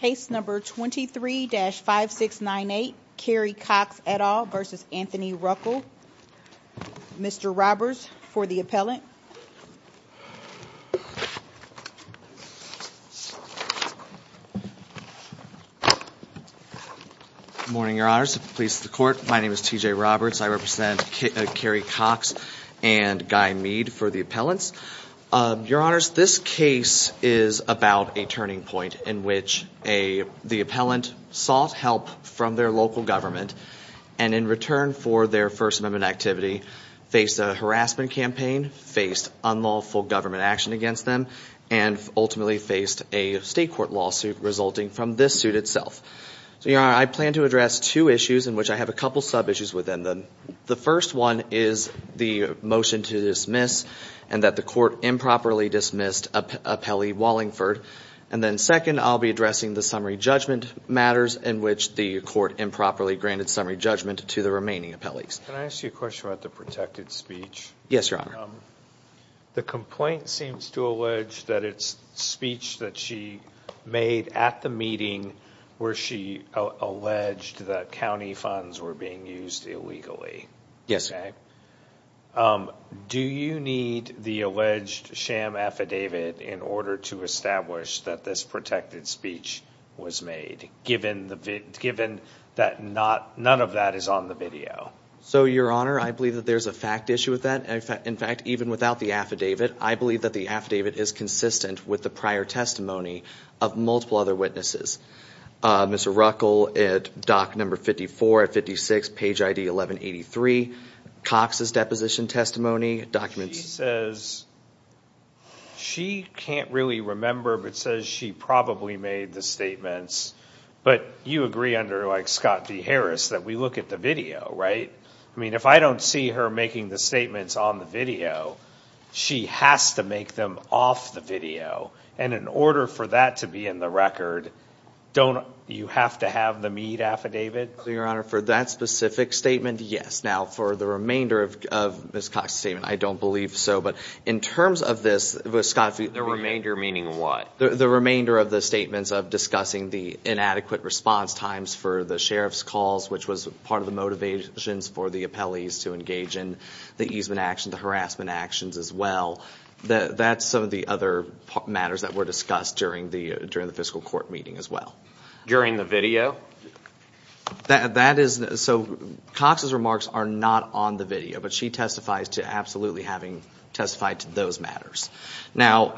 Case number 23-5698 Kerry Cox et al versus Anthony Ruckel. Mr. Roberts for the appellant. Good morning your honors, the police, the court. My name is T.J. Roberts. I represent Kerry Cox and Guy Mead for the appellants. Your honors, this case is about a turning point in which the appellant sought help from their local government and in return for their First Amendment activity faced a harassment campaign, faced unlawful government action against them, and ultimately faced a state court lawsuit resulting from this suit itself. So your honor, I plan to address two issues in which I have a couple sub-issues within them. The first one is the motion to dismiss and that the court improperly dismissed appellee Wallingford. And then second, I'll be addressing the summary judgment matters in which the court improperly granted summary judgment to the remaining appellees. Can I ask you a question about the protected speech? Yes, your honor. The complaint seems to allege that it's speech that she made at the meeting where she alleged that county funds were being used illegally. Yes. Do you need the alleged sham affidavit in order to establish that this protected speech was made, given that none of that is on the video? So your honor, I believe that there's a fact issue with that. In fact, even without the affidavit, I believe that the affidavit is consistent with the prior testimony of multiple other witnesses. Mr. Ruckel at dock number 54 at 56, page ID 1183, Cox's deposition testimony documents. She says she can't really remember, but says she probably made the statements. But you agree under like Scott D. Harris that we look at the video, right? I mean, if I don't see her making the statements on the video, she has to make them off the video. And in order for that to be in the record, don't you have to have the meat affidavit? Your honor, for that specific statement, yes. Now for the remainder of Ms. Cox's statement, I don't believe so. But in terms of this, the remainder of the statements of discussing the inadequate response times for the sheriff's calls, which was part of the motivations for the appellees to engage in the easement action, the harassment actions as well. That's some of the other matters that were discussed during the fiscal court meeting as well. During the video? That is, so Cox's remarks are not on the video, but she testifies to absolutely having testified to those matters. Now,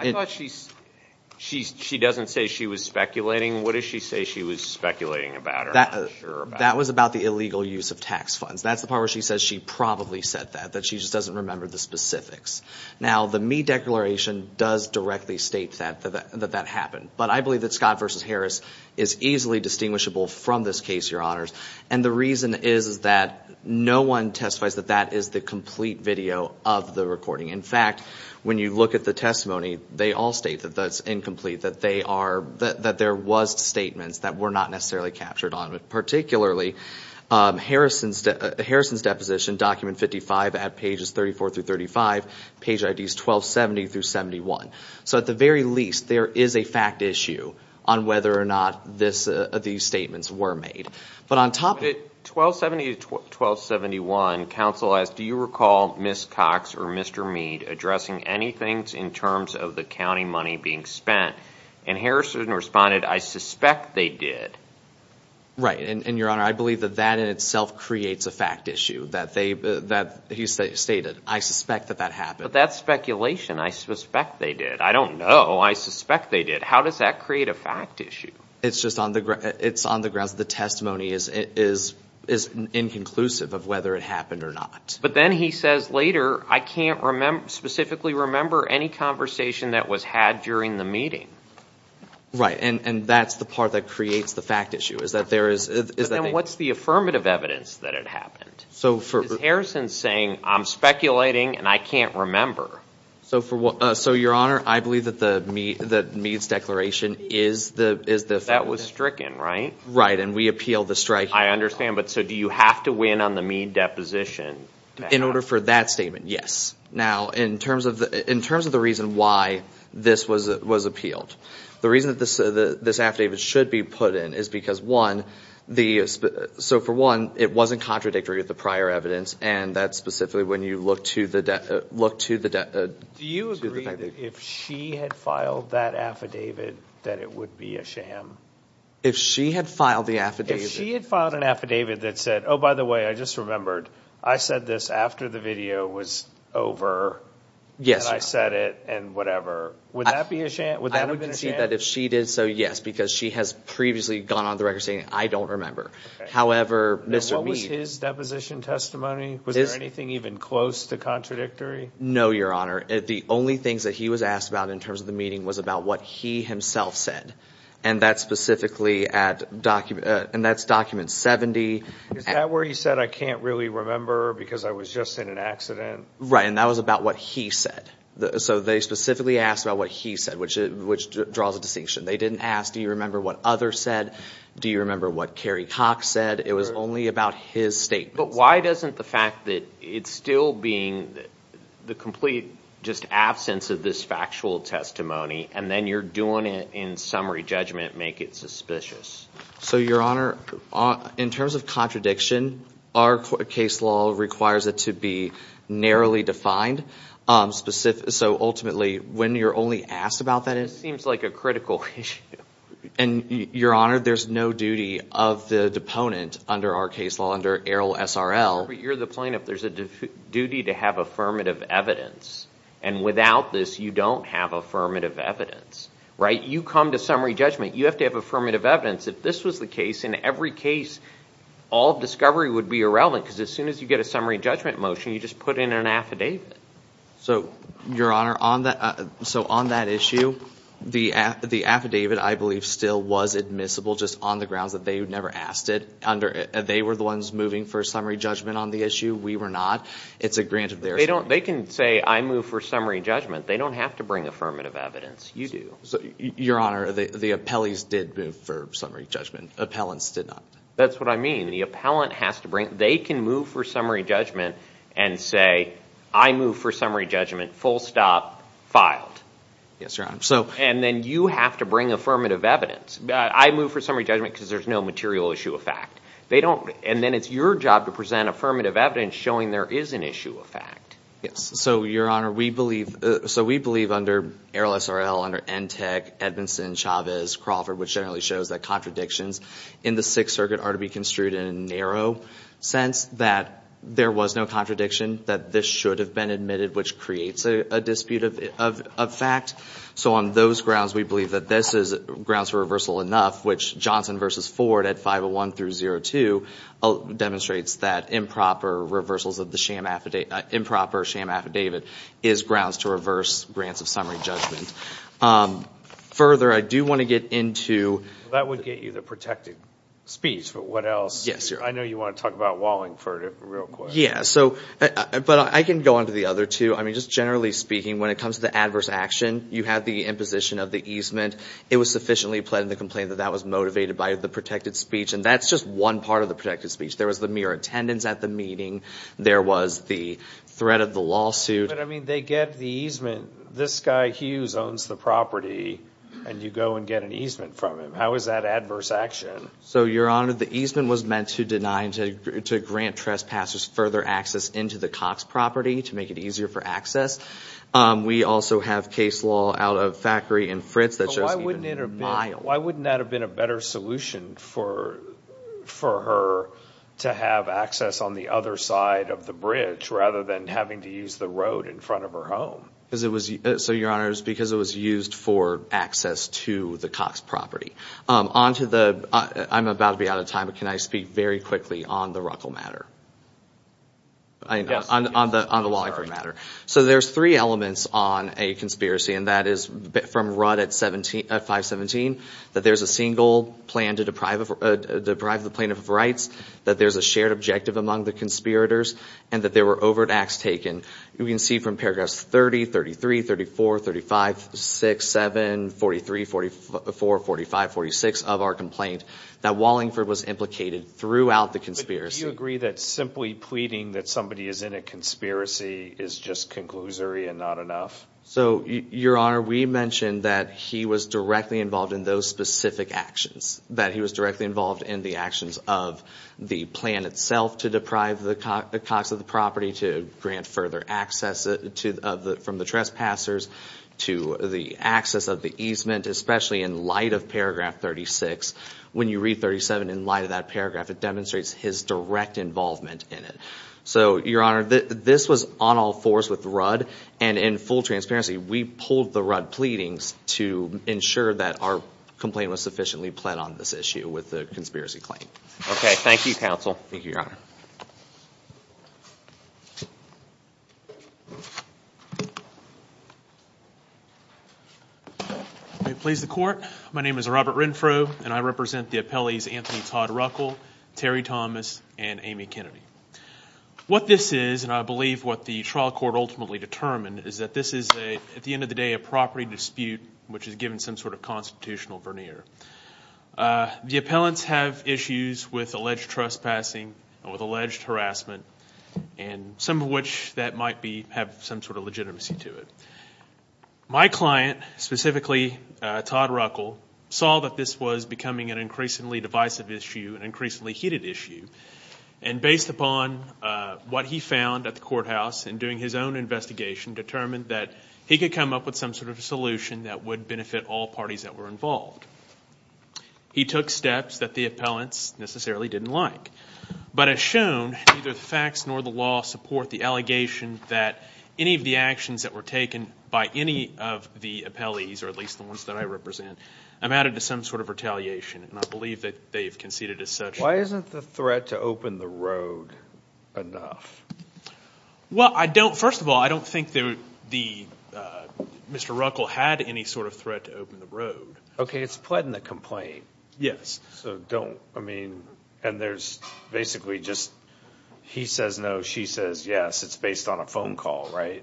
she doesn't say she was speculating. What does she say she was speculating about? That was about the illegal use of tax funds. That's the part where she says she probably said that, that she just doesn't remember the specifics. Now, the meat declaration does directly state that that happened. But I believe that Scott versus Harris is easily distinguishable from this case, your honors. And the reason is that no one testifies that that is the complete video of the recording. In fact, when you look at the testimony, they all state that that's incomplete, that there was statements that were not necessarily captured on it, particularly Harrison's deposition, document 55 at pages 34 through 35, page IDs 1270 through 71. So at the very least, there is a fact issue on whether or not these statements were made. But on top of it, 1270 to 1271, counsel asked, do you recall Ms. Cox or Mr. Mead addressing anything in terms of the county money being spent? And Harrison responded, I suspect they did. Right. And your honor, I believe that that in itself creates a fact issue that he stated, I suspect that that happened. But that's speculation. I suspect they did. I don't know. I suspect they did. How does that create a fact issue? It's on the grounds that the testimony is inconclusive of whether it happened or not. But then he says later, I can't specifically remember any conversation that was had during the meeting. Right. And that's the part that creates the fact issue, is that there is... But then what's the affirmative evidence that it happened? So for... Because Harrison's saying, I'm speculating and I can't remember. So for what... So your honor, I believe that the Mead's declaration is the fact... That was stricken, right? Right. And we appeal the strike... I understand. But so do you have to win on the Mead deposition? In order for that statement, yes. Now, in terms of the reason why this was appealed, the reason that this affidavit should be put in is because one, the... So for one, it wasn't contradictory with the prior evidence. And that's specifically when you look to the... Do you agree that if she had filed that affidavit, that it would be a sham? If she had filed the affidavit... If she had filed an affidavit that said, oh, by the way, I just remembered. I said this after the video was over. Yes. And I said it and whatever. Would that be a sham? Would that have been a sham? If she did so, yes, because she has previously gone on the record saying, I don't remember. However, Mr. Mead... What was his deposition testimony? Was there anything even close to contradictory? No, your honor. The only things that he was asked about in terms of the meeting was about what he himself said. And that's specifically at... And that's document 70. Is that where he said, I can't really remember because I was just in an accident? Right. And that was about what he said. So they specifically asked about what he said, which draws a distinction. They didn't ask, do you remember what others said? Do you remember what Kerry Cox said? It was only about his statements. But why doesn't the fact that it's still being the complete just absence of this factual testimony and then you're doing it in summary judgment make it suspicious? So your honor, in terms of contradiction, our case law requires it to be narrowly defined. Specific. So ultimately, when you're only asked about that, it seems like a critical issue. And your honor, there's no duty of the deponent under our case law, under ARIL SRL. You're the plaintiff. There's a duty to have affirmative evidence. And without this, you don't have affirmative evidence, right? You come to summary judgment, you have to have affirmative evidence. If this was the case, in every case, all discovery would be irrelevant because as soon as you get a summary judgment motion, you just put in an affidavit. So your honor, on that issue, the affidavit I believe still was admissible just on the grounds that they never asked it. They were the ones moving for summary judgment on the issue. We were not. It's a grant of theirs. They can say, I move for summary judgment. They don't have to bring affirmative evidence. You do. Your honor, the appellees did move for summary judgment. Appellants did not. That's what I mean. The appellant has to bring, they can move for summary judgment and say, I move for summary judgment, full stop, filed. Yes, your honor. And then you have to bring affirmative evidence. I move for summary judgment because there's no material issue of fact. They don't. And then it's your job to present affirmative evidence showing there is an issue of fact. Yes. So your honor, we believe under ARIL SRL, under NTEC, Edmondson, Chavez, Crawford, which generally shows that contradictions in the Sixth Circuit are to be construed in a narrow sense that there was no contradiction, that this should have been admitted, which creates a dispute of fact. So on those grounds, we believe that this is grounds for reversal enough, which Johnson v. Ford at 501 through 02 demonstrates that improper reversals of the improper sham affidavit is grounds to reverse grants of summary judgment. Further, I do want to get into... That would get you the protected speech, but what else? Yes, your honor. I know you want to talk about Wallingford real quick. Yeah. But I can go on to the other two. I mean, just generally speaking, when it comes to the adverse action, you have the imposition of the easement. It was sufficiently pled in the complaint that that was motivated by the protected speech. And that's just one part of the protected speech. There was the mere attendance at the meeting. There was the threat of the lawsuit. But I mean, they get the easement. This guy Hughes owns the property and you go and get an easement from him. How is that adverse action? So, your honor, the easement was meant to deny and to grant trespassers further access into the Cox property to make it easier for access. We also have case law out of Thackery and Fritz that shows even miles. Why wouldn't that have been a better solution for her to have access on the other side of the bridge rather than having to use the road in front of her home? So, your honor, it was because it was used for access to the Cox property. On to the, I'm about to be out of time, but can I speak very quickly on the Ruckel matter? On the Wallingford matter. So, there's three elements on a conspiracy and that is from Rudd at 517. That there's a single plan to deprive the plaintiff of rights. That there's a shared objective among the conspirators. And that there were overt acts taken. You can see from paragraphs 30, 33, 34, 35, 6, 7, 43, 44, 45, 46 of our complaint that Wallingford was implicated throughout the conspiracy. But do you agree that simply pleading that somebody is in a conspiracy is just conclusory and not enough? So, your honor, we mentioned that he was directly involved in those specific actions. That he was directly involved in the actions of the plan itself to deprive the Cox of the property, to grant further access from the trespassers to the access of the easement. Especially in light of paragraph 36. When you read 37 in light of that paragraph, it demonstrates his direct involvement in it. So, your honor, this was on all fours with Rudd. And in full transparency, we pulled the Rudd pleadings to ensure that our complaint was sufficiently pled on this issue with the conspiracy claim. Okay, thank you, counsel. Thank you, your honor. May it please the court. My name is Robert Renfrow, and I represent the appellees Anthony Todd Ruckel, Terry Thomas, and Amy Kennedy. What this is, and I believe what the trial court ultimately determined, is that this is a, at the end of the day, a property dispute which is given some sort of constitutional veneer. The appellants have issues with alleged trespassing and with alleged harassment. And some of which that might be, have some sort of legitimacy to it. My client, specifically Todd Ruckel, saw that this was becoming an increasingly divisive issue, an increasingly heated issue. And based upon what he found at the courthouse in doing his own investigation, determined that he could come up with some sort of a solution that would benefit all parties that were involved. He took steps that the appellants necessarily didn't like. But as shown, neither the facts nor the law support the allegation that any of the actions that were taken by any of the appellees, or at least the ones that I represent, amounted to some sort of retaliation. And I believe that they've conceded as such. Why isn't the threat to open the road enough? Well, I don't, first of all, I don't think that Mr. Ruckel had any sort of threat to open the road. Okay, it's pled in the complaint. Yes. So don't, I mean, and there's basically just he says no, she says yes. It's based on a phone call, right?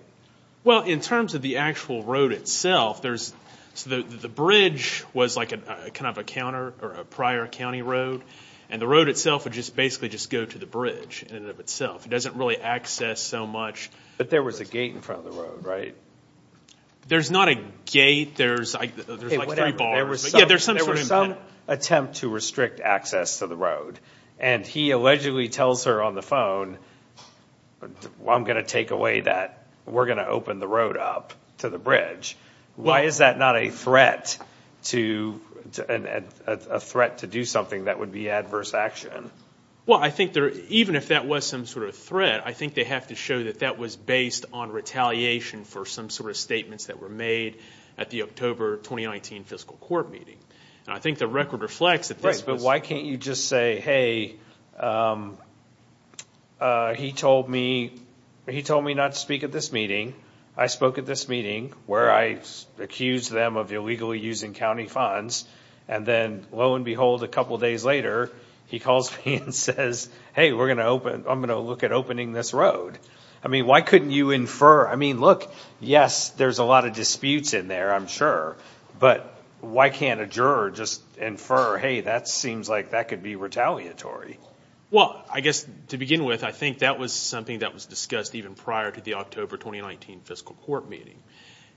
Well, in terms of the actual road itself, there's, so the bridge was like a kind of a counter, or a prior county road. And the road itself would just basically just go to the bridge in and of itself. It doesn't really access so much. But there was a gate in front of the road, right? There's not a gate. There's like three bars. There was some attempt to restrict access to the road. And he allegedly tells her on the phone, well, I'm going to take away that. We're going to open the road up to the bridge. Why is that not a threat to, a threat to do something that would be adverse action? Well, I think there, even if that was some sort of threat, I think they have to show that that was based on retaliation for some sort of statements that were made at the October 2019 fiscal court meeting. And I think the record reflects that. Right. But why can't you just say, hey, he told me, he told me not to speak at this meeting. I spoke at this meeting where I accused them of illegally using county funds. And then lo and behold, a couple of days later, he calls me and says, hey, we're going to open, I'm going to look at opening this road. I mean, why couldn't you infer? I mean, look, yes, there's a lot of disputes in there. But why can't a juror just infer, hey, that seems like that could be retaliatory? Well, I guess to begin with, I think that was something that was discussed even prior to the October 2019 fiscal court meeting.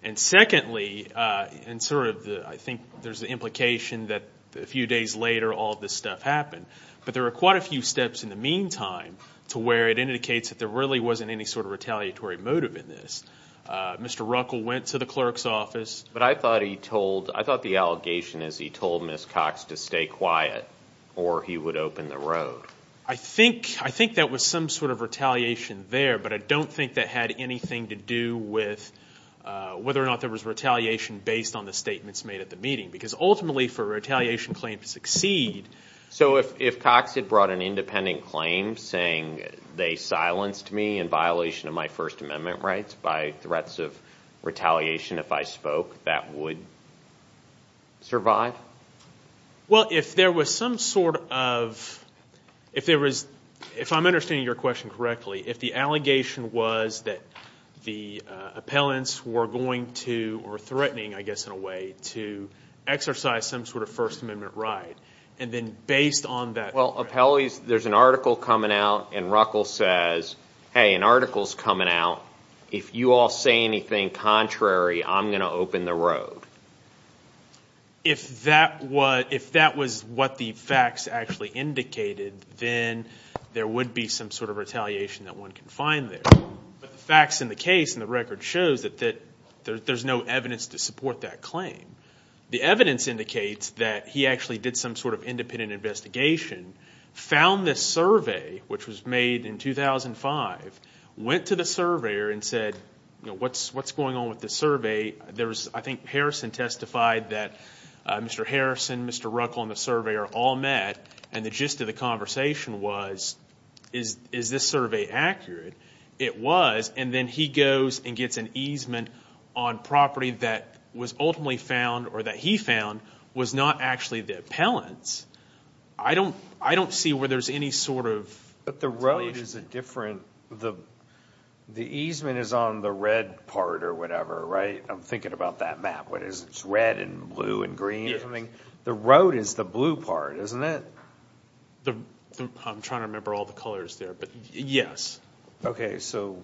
And secondly, and sort of the, I think there's the implication that a few days later, all this stuff happened. But there are quite a few steps in the meantime to where it indicates that there really wasn't any sort of retaliatory motive in this. Mr. Ruckel went to the clerk's office. But I thought he told, I thought the allegation is he told Ms. Cox to stay quiet or he would open the road. I think, I think that was some sort of retaliation there. But I don't think that had anything to do with whether or not there was retaliation based on the statements made at the meeting. Because ultimately for a retaliation claim to succeed. So if Cox had brought an independent claim saying they silenced me in violation of my First Amendment rights by threats of retaliation, if I spoke, that would survive? Well, if there was some sort of, if there was, if I'm understanding your question correctly, if the allegation was that the appellants were going to, or threatening, I guess in a way, to exercise some sort of First Amendment right. And then based on that. Well, appellees, there's an article coming out and Ruckel says, hey, an article's coming out. If you all say anything contrary, I'm going to open the road. If that was what the facts actually indicated, then there would be some sort of retaliation that one can find there. But the facts in the case and the record shows that there's no evidence to support that claim. The evidence indicates that he actually did some sort of independent investigation, found this survey, which was made in 2005, went to the surveyor and said, you know, what's going on with this survey? There was, I think, Harrison testified that Mr. Harrison, Mr. Ruckel, and the surveyor all met. And the gist of the conversation was, is this survey accurate? It was. And then he goes and gets an easement on property that was ultimately found, or that he found, was not actually the appellant's. I don't see where there's any sort of retaliation. But the road is a different, the easement is on the red part or whatever, right? I'm thinking about that map. What is it? It's red and blue and green or something? The road is the blue part, isn't it? I'm trying to remember all the colors there, but yes. So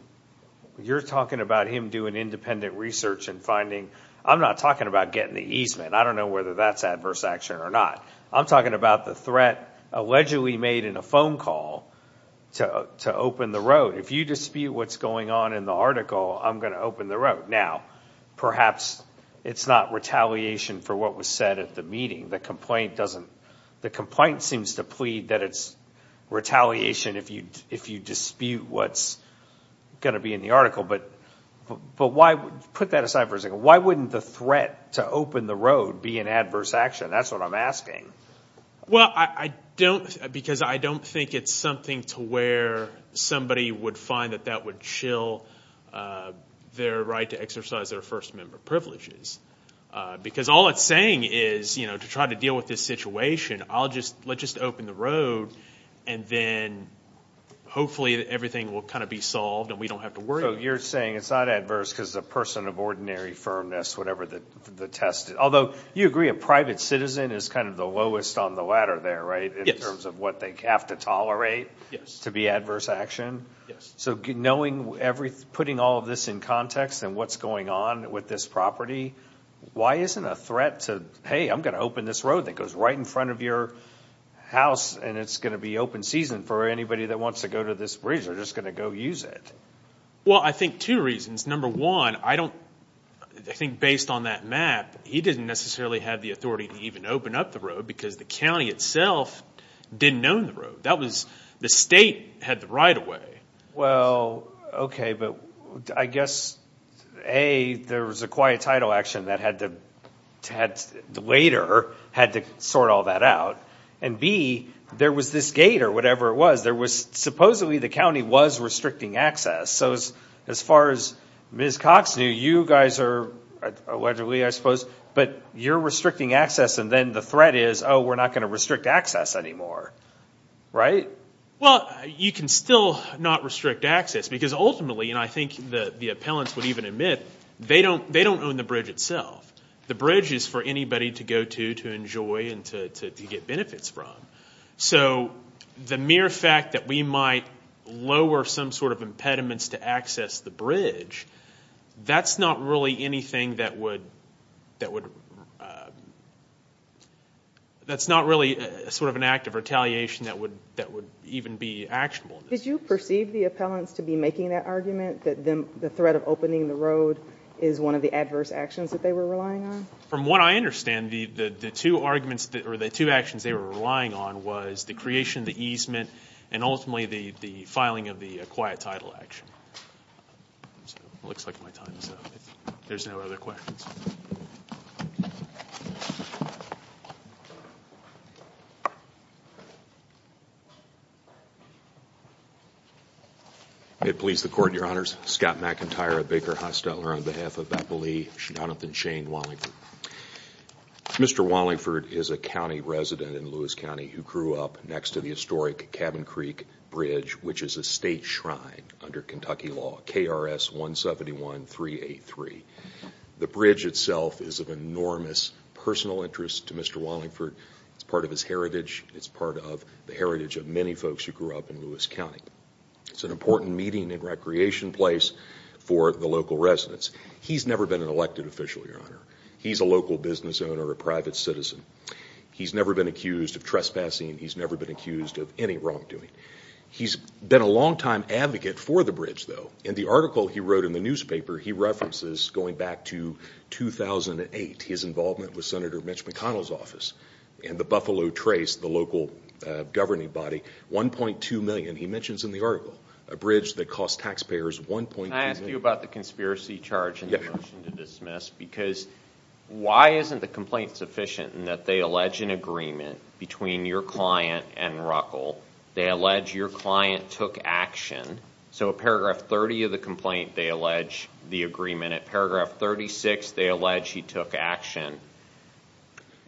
you're talking about him doing independent research and finding, I'm not talking about getting the easement. I don't know whether that's adverse action or not. I'm talking about the threat allegedly made in a phone call to open the road. If you dispute what's going on in the article, I'm going to open the road. Now, perhaps it's not retaliation for what was said at the meeting. The complaint doesn't, the complaint seems to plead that it's retaliation if you dispute what's going to be in the article. But put that aside for a second. Why wouldn't the threat to open the road be an adverse action? That's what I'm asking. Well, I don't, because I don't think it's something to where somebody would find that that would chill their right to exercise their first member privileges. Because all it's saying is, you know, to try to deal with this situation, I'll just, let's just open the road and then hopefully everything will kind of be solved and we don't have to worry. So you're saying it's not adverse because the person of ordinary firmness, whatever the test is, although you agree a private citizen is kind of the lowest on the ladder there, right? In terms of what they have to tolerate to be adverse action? Yes. So knowing every, putting all of this in context and what's going on with this property, why isn't a threat to, hey, I'm going to open this road that goes right in front of your house and it's going to be open season for anybody that wants to go to this bridge or just going to go use it? Well, I think two reasons. Number one, I don't, I think based on that map, he didn't necessarily have the authority to even open up the road because the county itself didn't know the road. That was, the state had the right of way. Well, okay. But I guess, A, there was a quiet title action that had to later had to sort all that out. And B, there was this gate or whatever it was, there was supposedly the county was restricting access. So as far as Ms. Cox knew, you guys are allegedly, I suppose, but you're restricting access and then the threat is, oh, we're not going to restrict access anymore, right? Well, you can still not restrict access because ultimately, and I think the appellants would even admit, they don't own the bridge itself. The bridge is for anybody to go to, to enjoy and to get benefits from. So the mere fact that we might lower some sort of impediments to access the bridge, that's not really anything that would, that's not really sort of an act of retaliation that would even be actionable. Did you perceive the appellants to be making that argument that the threat of opening the road is one of the adverse actions that they were relying on? From what I understand, the two arguments or the two actions they were relying on was the creation of the easement and ultimately the filing of the quiet title action. So it looks like my time is up. There's no other questions. May it please the Court, Your Honors. Scott McIntyre of Baker Hosteller on behalf of Appellee Jonathan Shane Wallingford. Mr. Wallingford is a county resident in Lewis County who grew up next to the historic Cabin Creek Bridge, which is a state shrine under Kentucky law, KRS 171-383. The bridge itself is of enormous personal interest to Mr. Wallingford. It's part of his heritage. It's part of the heritage of the state. It's part of the heritage of many folks who grew up in Lewis County. It's an important meeting and recreation place for the local residents. He's never been an elected official, Your Honor. He's a local business owner, a private citizen. He's never been accused of trespassing. He's never been accused of any wrongdoing. He's been a longtime advocate for the bridge, though. In the article he wrote in the newspaper, he references going back to 2008, his involvement with Senator Mitch McConnell's office and the Buffalo Trace, the local governing body, $1.2 million. He mentions in the article a bridge that cost taxpayers $1.2 million. Can I ask you about the conspiracy charge in the motion to dismiss? Because why isn't the complaint sufficient in that they allege an agreement between your client and Ruckel? They allege your client took action. So paragraph 30 of the complaint, they allege the agreement. Paragraph 36, they allege he took action.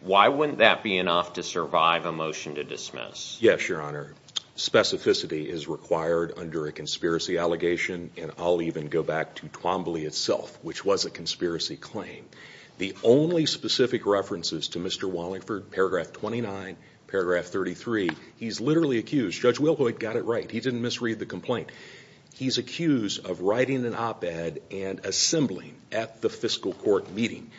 Why wouldn't that be enough to survive a motion to dismiss? Yes, Your Honor. Specificity is required under a conspiracy allegation. And I'll even go back to Twombly itself, which was a conspiracy claim. The only specific references to Mr. Wallingford, paragraph 29, paragraph 33, he's literally accused. Judge Wilhoyd got it right. He didn't misread the complaint. He's accused of writing an op-ed and assembling at the fiscal court meeting.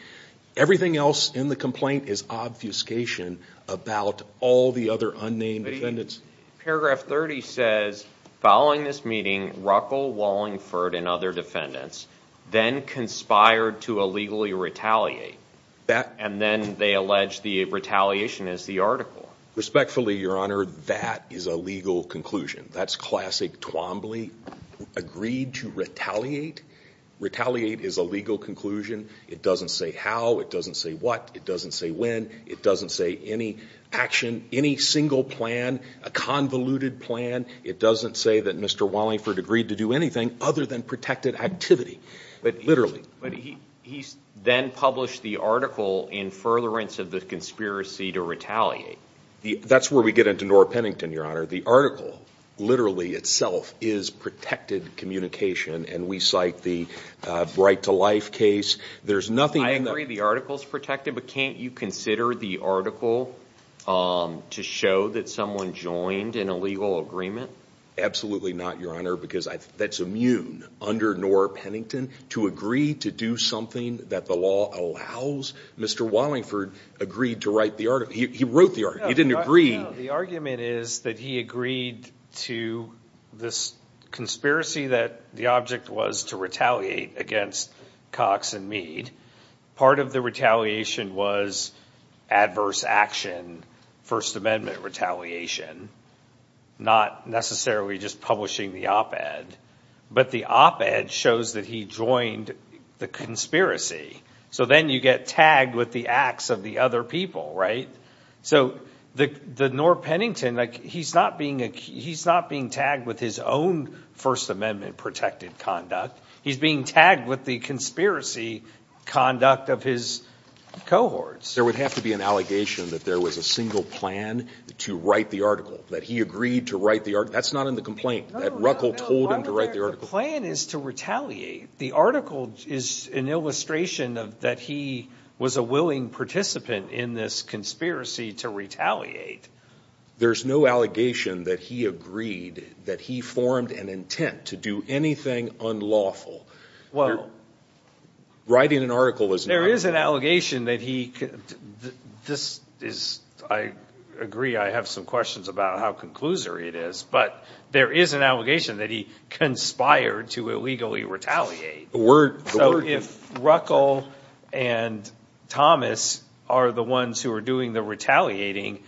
Everything else in the complaint is obfuscation about all the other unnamed defendants. Paragraph 30 says, following this meeting, Ruckel, Wallingford, and other defendants then conspired to illegally retaliate. And then they allege the retaliation is the article. Respectfully, Your Honor, that is a legal conclusion. That's classic Twombly agreed to retaliate. Retaliate is a legal conclusion. It doesn't say how. It doesn't say what. It doesn't say when. It doesn't say any action, any single plan, a convoluted plan. It doesn't say that Mr. Wallingford agreed to do anything other than protected activity. Literally. But he then published the article in furtherance of the conspiracy to retaliate. That's where we get into Nora Pennington, Your Honor. The article literally itself is protected communication. And we cite the Bright to Life case. There's nothing in the- I agree the article's protected. But can't you consider the article to show that someone joined in a legal agreement? Absolutely not, Your Honor. Because that's immune under Nora Pennington to agree to do something that the law allows. Mr. Wallingford agreed to write the article. He wrote the article. He didn't agree. The argument is that he agreed to this conspiracy that the object was to retaliate against Cox and Part of the retaliation was adverse action, First Amendment retaliation, not necessarily just publishing the op-ed. But the op-ed shows that he joined the conspiracy. So then you get tagged with the acts of the other people, right? So the Nora Pennington, he's not being tagged with his own First Amendment protected conduct. He's being tagged with the conspiracy conduct of his cohorts. There would have to be an allegation that there was a single plan to write the article, that he agreed to write the article. That's not in the complaint, that Ruckel told him to write the article. The plan is to retaliate. The article is an illustration of that. He was a willing participant in this conspiracy to retaliate. There's no allegation that he agreed that he formed an intent to do anything unlawful. Well, writing an article is there is an allegation that he. This is I agree. I have some questions about how conclusory it is, but there is an allegation that he conspired to illegally retaliate. So if Ruckel and Thomas are the ones who are doing the retaliating,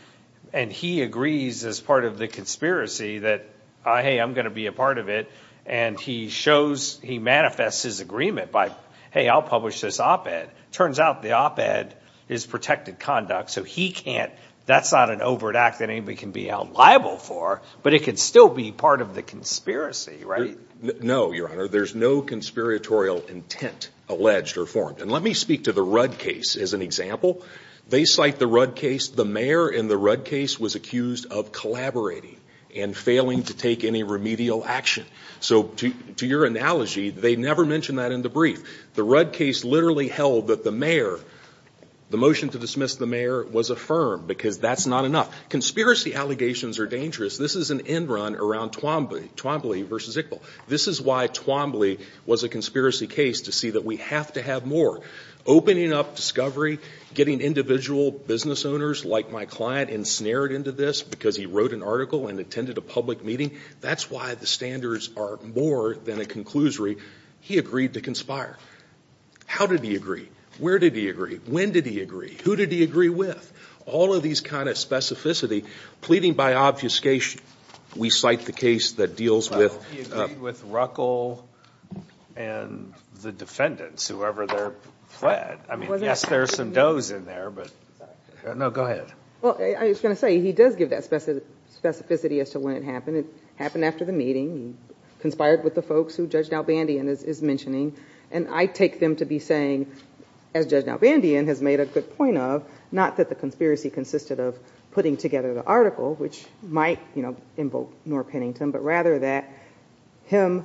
and he agrees as part of the conspiracy that, hey, I'm going to be a part of it. And he shows, he manifests his agreement by, hey, I'll publish this op-ed. Turns out the op-ed is protected conduct. So he can't, that's not an overt act that anybody can be out liable for, but it could still be part of the conspiracy, right? No, Your Honor. There's no conspiratorial intent alleged or formed. And let me speak to the Rudd case as an example. They cite the Rudd case. The mayor in the Rudd case was accused of collaborating and failing to take any remedial action. So to your analogy, they never mentioned that in the brief. The Rudd case literally held that the mayor, the motion to dismiss the mayor was affirmed because that's not enough. Conspiracy allegations are dangerous. This is an end run around Twombly versus Iqbal. This is why Twombly was a conspiracy case, to see that we have to have more. Opening up discovery, getting individual business owners like my client ensnared into this because he wrote an article and attended a public meeting, that's why the standards are more than a conclusory. He agreed to conspire. How did he agree? Where did he agree? When did he agree? Who did he agree with? All of these kind of specificity, pleading by obfuscation. We cite the case that deals with... Well, he agreed with Ruckel and the defendants, whoever they're fled. I mean, yes, there's some does in there, but... No, go ahead. Well, I was going to say, he does give that specificity as to when it happened. It happened after the meeting. He conspired with the folks who Judge Nalbandian is mentioning. And I take them to be saying, as Judge Nalbandian has made a good point of, not that the conspiracy consisted of putting together the article, which might invoke Noah Pennington, but rather that him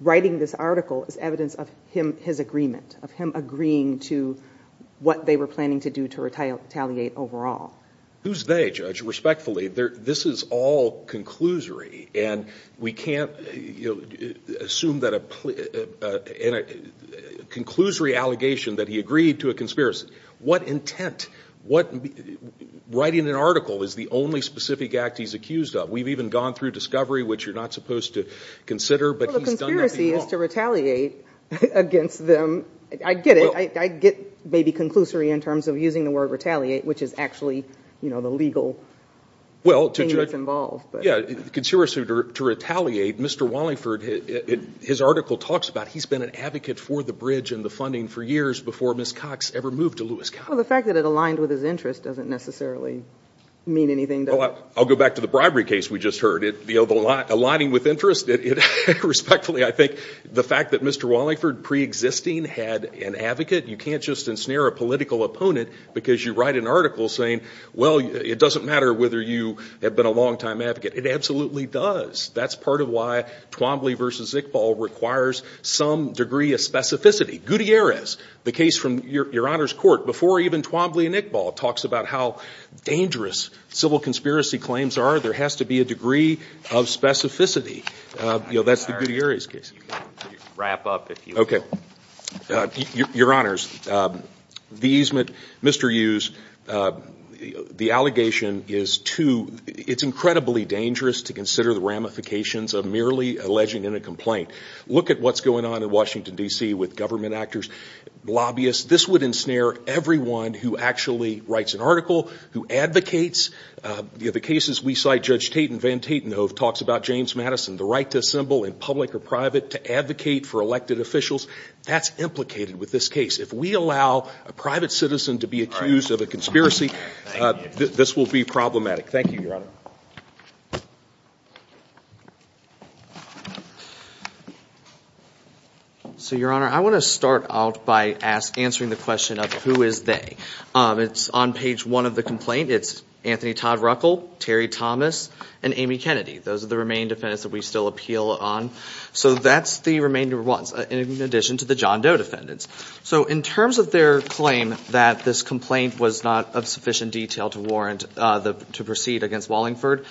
writing this article is evidence of his agreement, of him agreeing to what they were planning to do to retaliate overall. Who's they, Judge? Respectfully, this is all conclusory. And we can't assume that a... Conclusory allegation that he agreed to a conspiracy. What intent? Writing an article is the only specific act he's accused of. We've even gone through discovery, which you're not supposed to consider. Well, the conspiracy is to retaliate against them. I get it. I get maybe conclusory in terms of using the word retaliate, which is actually the legal thing that's involved. Yeah. Conspiracy to retaliate. Mr. Wallingford, his article talks about he's been an advocate for the bridge and the funding for years before Ms. Cox ever moved to Lewis County. The fact that it aligned with his interest doesn't necessarily mean anything. I'll go back to the bribery case we just heard. Aligning with interest. Respectfully, I think the fact that Mr. Wallingford pre-existing had an advocate, you can't just ensnare a political opponent because you write an article saying, well, it doesn't matter whether you have been a longtime advocate. It absolutely does. That's part of why Twombly v. Iqbal requires some degree of specificity. Gutierrez, the case from Your Honor's court, before even Twombly and Iqbal, talks about how dangerous civil conspiracy claims are. There has to be a degree of specificity. That's the Gutierrez case. You can wrap up if you want. Your Honors, Mr. Hughes, the allegation is too, it's incredibly dangerous to consider the ramifications of merely alleging in a complaint. Look at what's going on in Washington, D.C. with government actors, lobbyists. This would ensnare everyone who actually writes an article, who advocates. The cases we cite, Judge Tate and Van Tatenhove talks about James Madison, the right to assemble in public or private to advocate for elected officials. That's implicated with this case. If we allow a private citizen to be accused of a conspiracy, this will be problematic. Thank you, Your Honor. So Your Honor, I want to start out by answering the question of who is they. It's on page one of the complaint. It's Anthony Todd Ruckel, Terry Thomas, and Amy Kennedy. Those are the remaining defendants that we still appeal on. So that's the remaining defendants, in addition to the John Doe defendants. So in terms of their claim that this complaint was not of sufficient detail to warrant to proceed against Wallingford,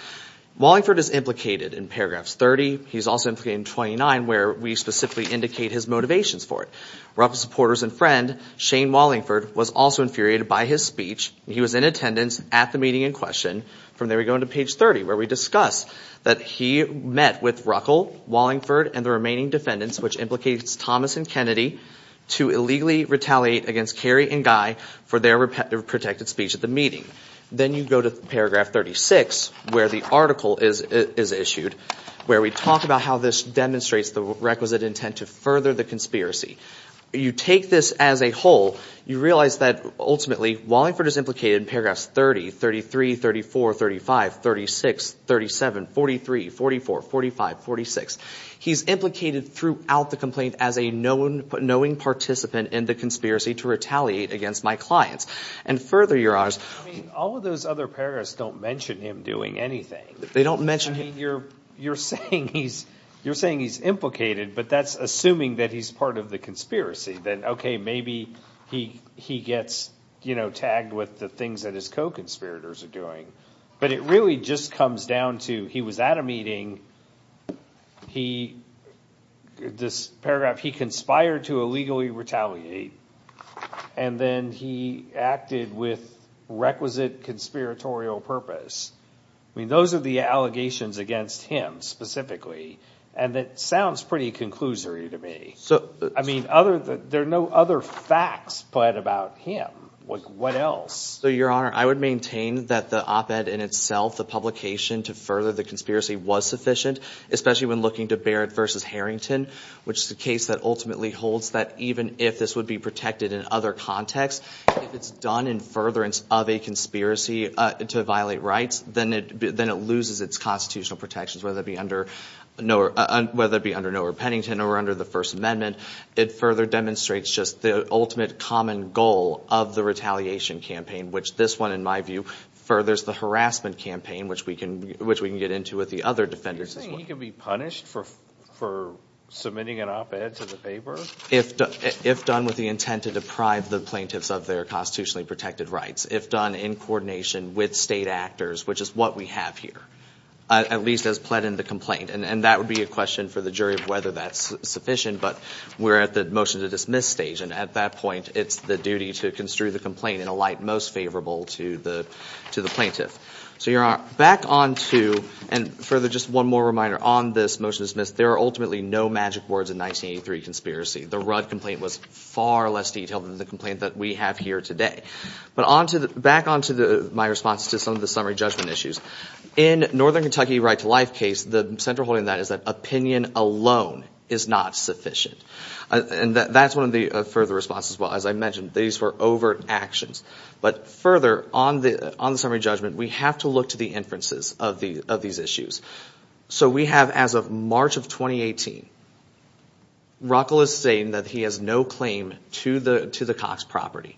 Wallingford is implicated in paragraphs 30. He's also implicated in 29, where we specifically indicate his motivations for it. Ruckel's supporters and friend, Shane Wallingford, was also infuriated by his speech. He was in attendance at the meeting in question. From there, we go into page 30, where we discuss that he met with Ruckel, Wallingford, and the remaining defendants, which implicates Thomas and Kennedy, to illegally retaliate against Kerry and Guy for their protected speech at the meeting. Then you go to paragraph 36, where the article is issued, where we talk about how this demonstrates the requisite intent to further the conspiracy. You take this as a whole. You realize that, ultimately, Wallingford is implicated in paragraphs 30, 33, 34, 35, 36, 37, 43, 44, 45, 46. He's implicated throughout the complaint as a knowing participant in the conspiracy to retaliate against my clients. Further, you're honest. I mean, all of those other paragraphs don't mention him doing anything. They don't mention him. I mean, you're saying he's implicated, but that's assuming that he's part of the conspiracy. Then, okay, maybe he gets tagged with the things that his co-conspirators are doing. But it really just comes down to, he was at a meeting. This paragraph, he conspired to illegally retaliate. Then he acted with requisite conspiratorial purpose. I mean, those are the allegations against him, specifically. That sounds pretty conclusory to me. There are no other facts put about him. What else? Your Honor, I would maintain that the op-ed in itself, the publication to further the conspiracy, was sufficient, especially when looking to Barrett versus Harrington, which is a case that ultimately holds that even if this would be protected in other contexts, if it's done in furtherance of a conspiracy to violate rights, then it loses its constitutional protections, whether it be under Norbert Pennington or under the First Amendment. It further demonstrates just the ultimate common goal of the retaliation campaign, which this one, in my view, furthers the harassment campaign, which we can get into with the other defendants as well. You're saying he could be punished for submitting an op-ed to the paper? If done with the intent to deprive the plaintiffs of their constitutionally protected rights, if done in coordination with state actors, which is what we have here, at least as pled in the complaint. That would be a question for the jury of whether that's sufficient, but we're at the motion to dismiss stage, and at that point, it's the duty to construe the complaint in a light most favorable to the plaintiff. Your Honor, back onto, and further, just one more reminder on this motion to dismiss, there are ultimately no magic words in 1983 conspiracy. The Rudd complaint was far less detailed than the complaint that we have here today. But back onto my response to some of the summary judgment issues. In Northern Kentucky Right to Life case, the central holding of that is that opinion alone is not sufficient, and that's one of the further responses as well. As I mentioned, these were overt actions, but further on the summary judgment, we have to look to the inferences of these issues. So we have, as of March of 2018, Ruckel is saying that he has no claim to the Cox property,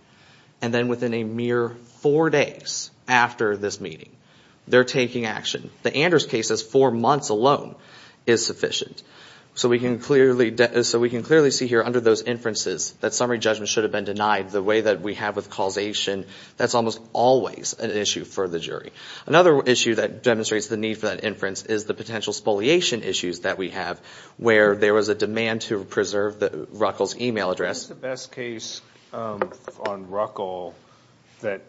and then within a mere four days after this meeting, they're taking action. The Anders case is four months alone is sufficient. So we can clearly see here under those inferences that summary judgment should have been denied the way that we have with causation. That's almost always an issue for the jury. Another issue that demonstrates the need for that inference is the potential spoliation issues that we have, where there was a demand to preserve Ruckel's email address. What's the best case on Ruckel that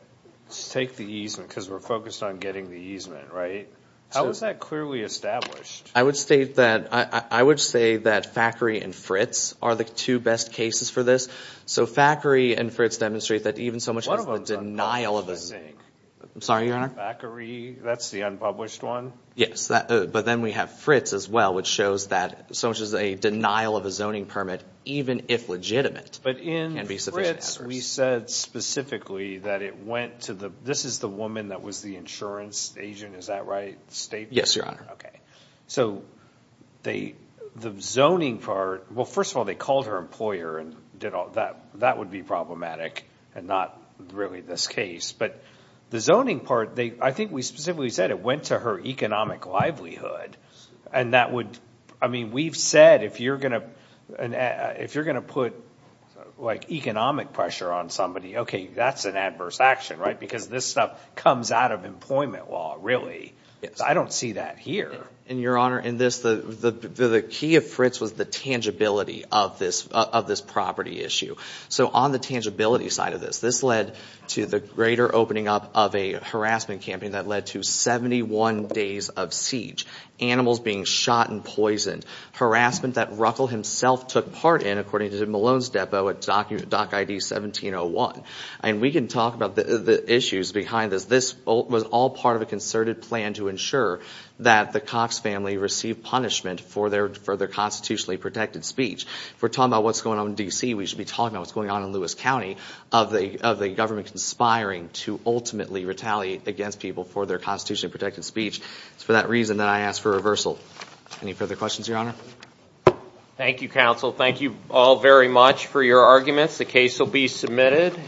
take the easement, because we're focused on getting the easement, right? How is that clearly established? I would state that, I would say that Fackery and Fritz are the two best cases for this. So Fackery and Fritz demonstrate that even so much as the denial of... One of them is unpublished, I think. I'm sorry, Your Honor. Fackery, that's the unpublished one? Yes, but then we have Fritz as well, which shows that so much as a denial of a zoning permit, even if legitimate, can be sufficient adverse. But in Fritz, we said specifically that it went to the, this is the woman that was the insurance agent, is that right? Yes, Your Honor. Okay. So the zoning part, well, first of all, they called her employer and that would be problematic and not really this case. But the zoning part, I think we specifically said it went to her economic livelihood. And that would, I mean, we've said if you're going to put economic pressure on somebody, okay, that's an adverse action, right? Because this stuff comes out of employment law, really. I don't see that here. And Your Honor, in this, the key of Fritz was the tangibility of this property issue. So on the tangibility side of this, this led to the greater opening up of a harassment campaign that led to 71 days of siege, animals being shot and poisoned. Harassment that Ruckel himself took part in, according to the Malone's depot, at Dock ID 1701. And we can talk about the issues behind this. But this was all part of a concerted plan to ensure that the Cox family received punishment for their constitutionally protected speech. If we're talking about what's going on in D.C., we should be talking about what's going on in Lewis County of the government conspiring to ultimately retaliate against people for their constitutionally protected speech. It's for that reason that I asked for reversal. Any further questions, Your Honor? Thank you, counsel. Thank you all very much for your arguments. The case will be submitted.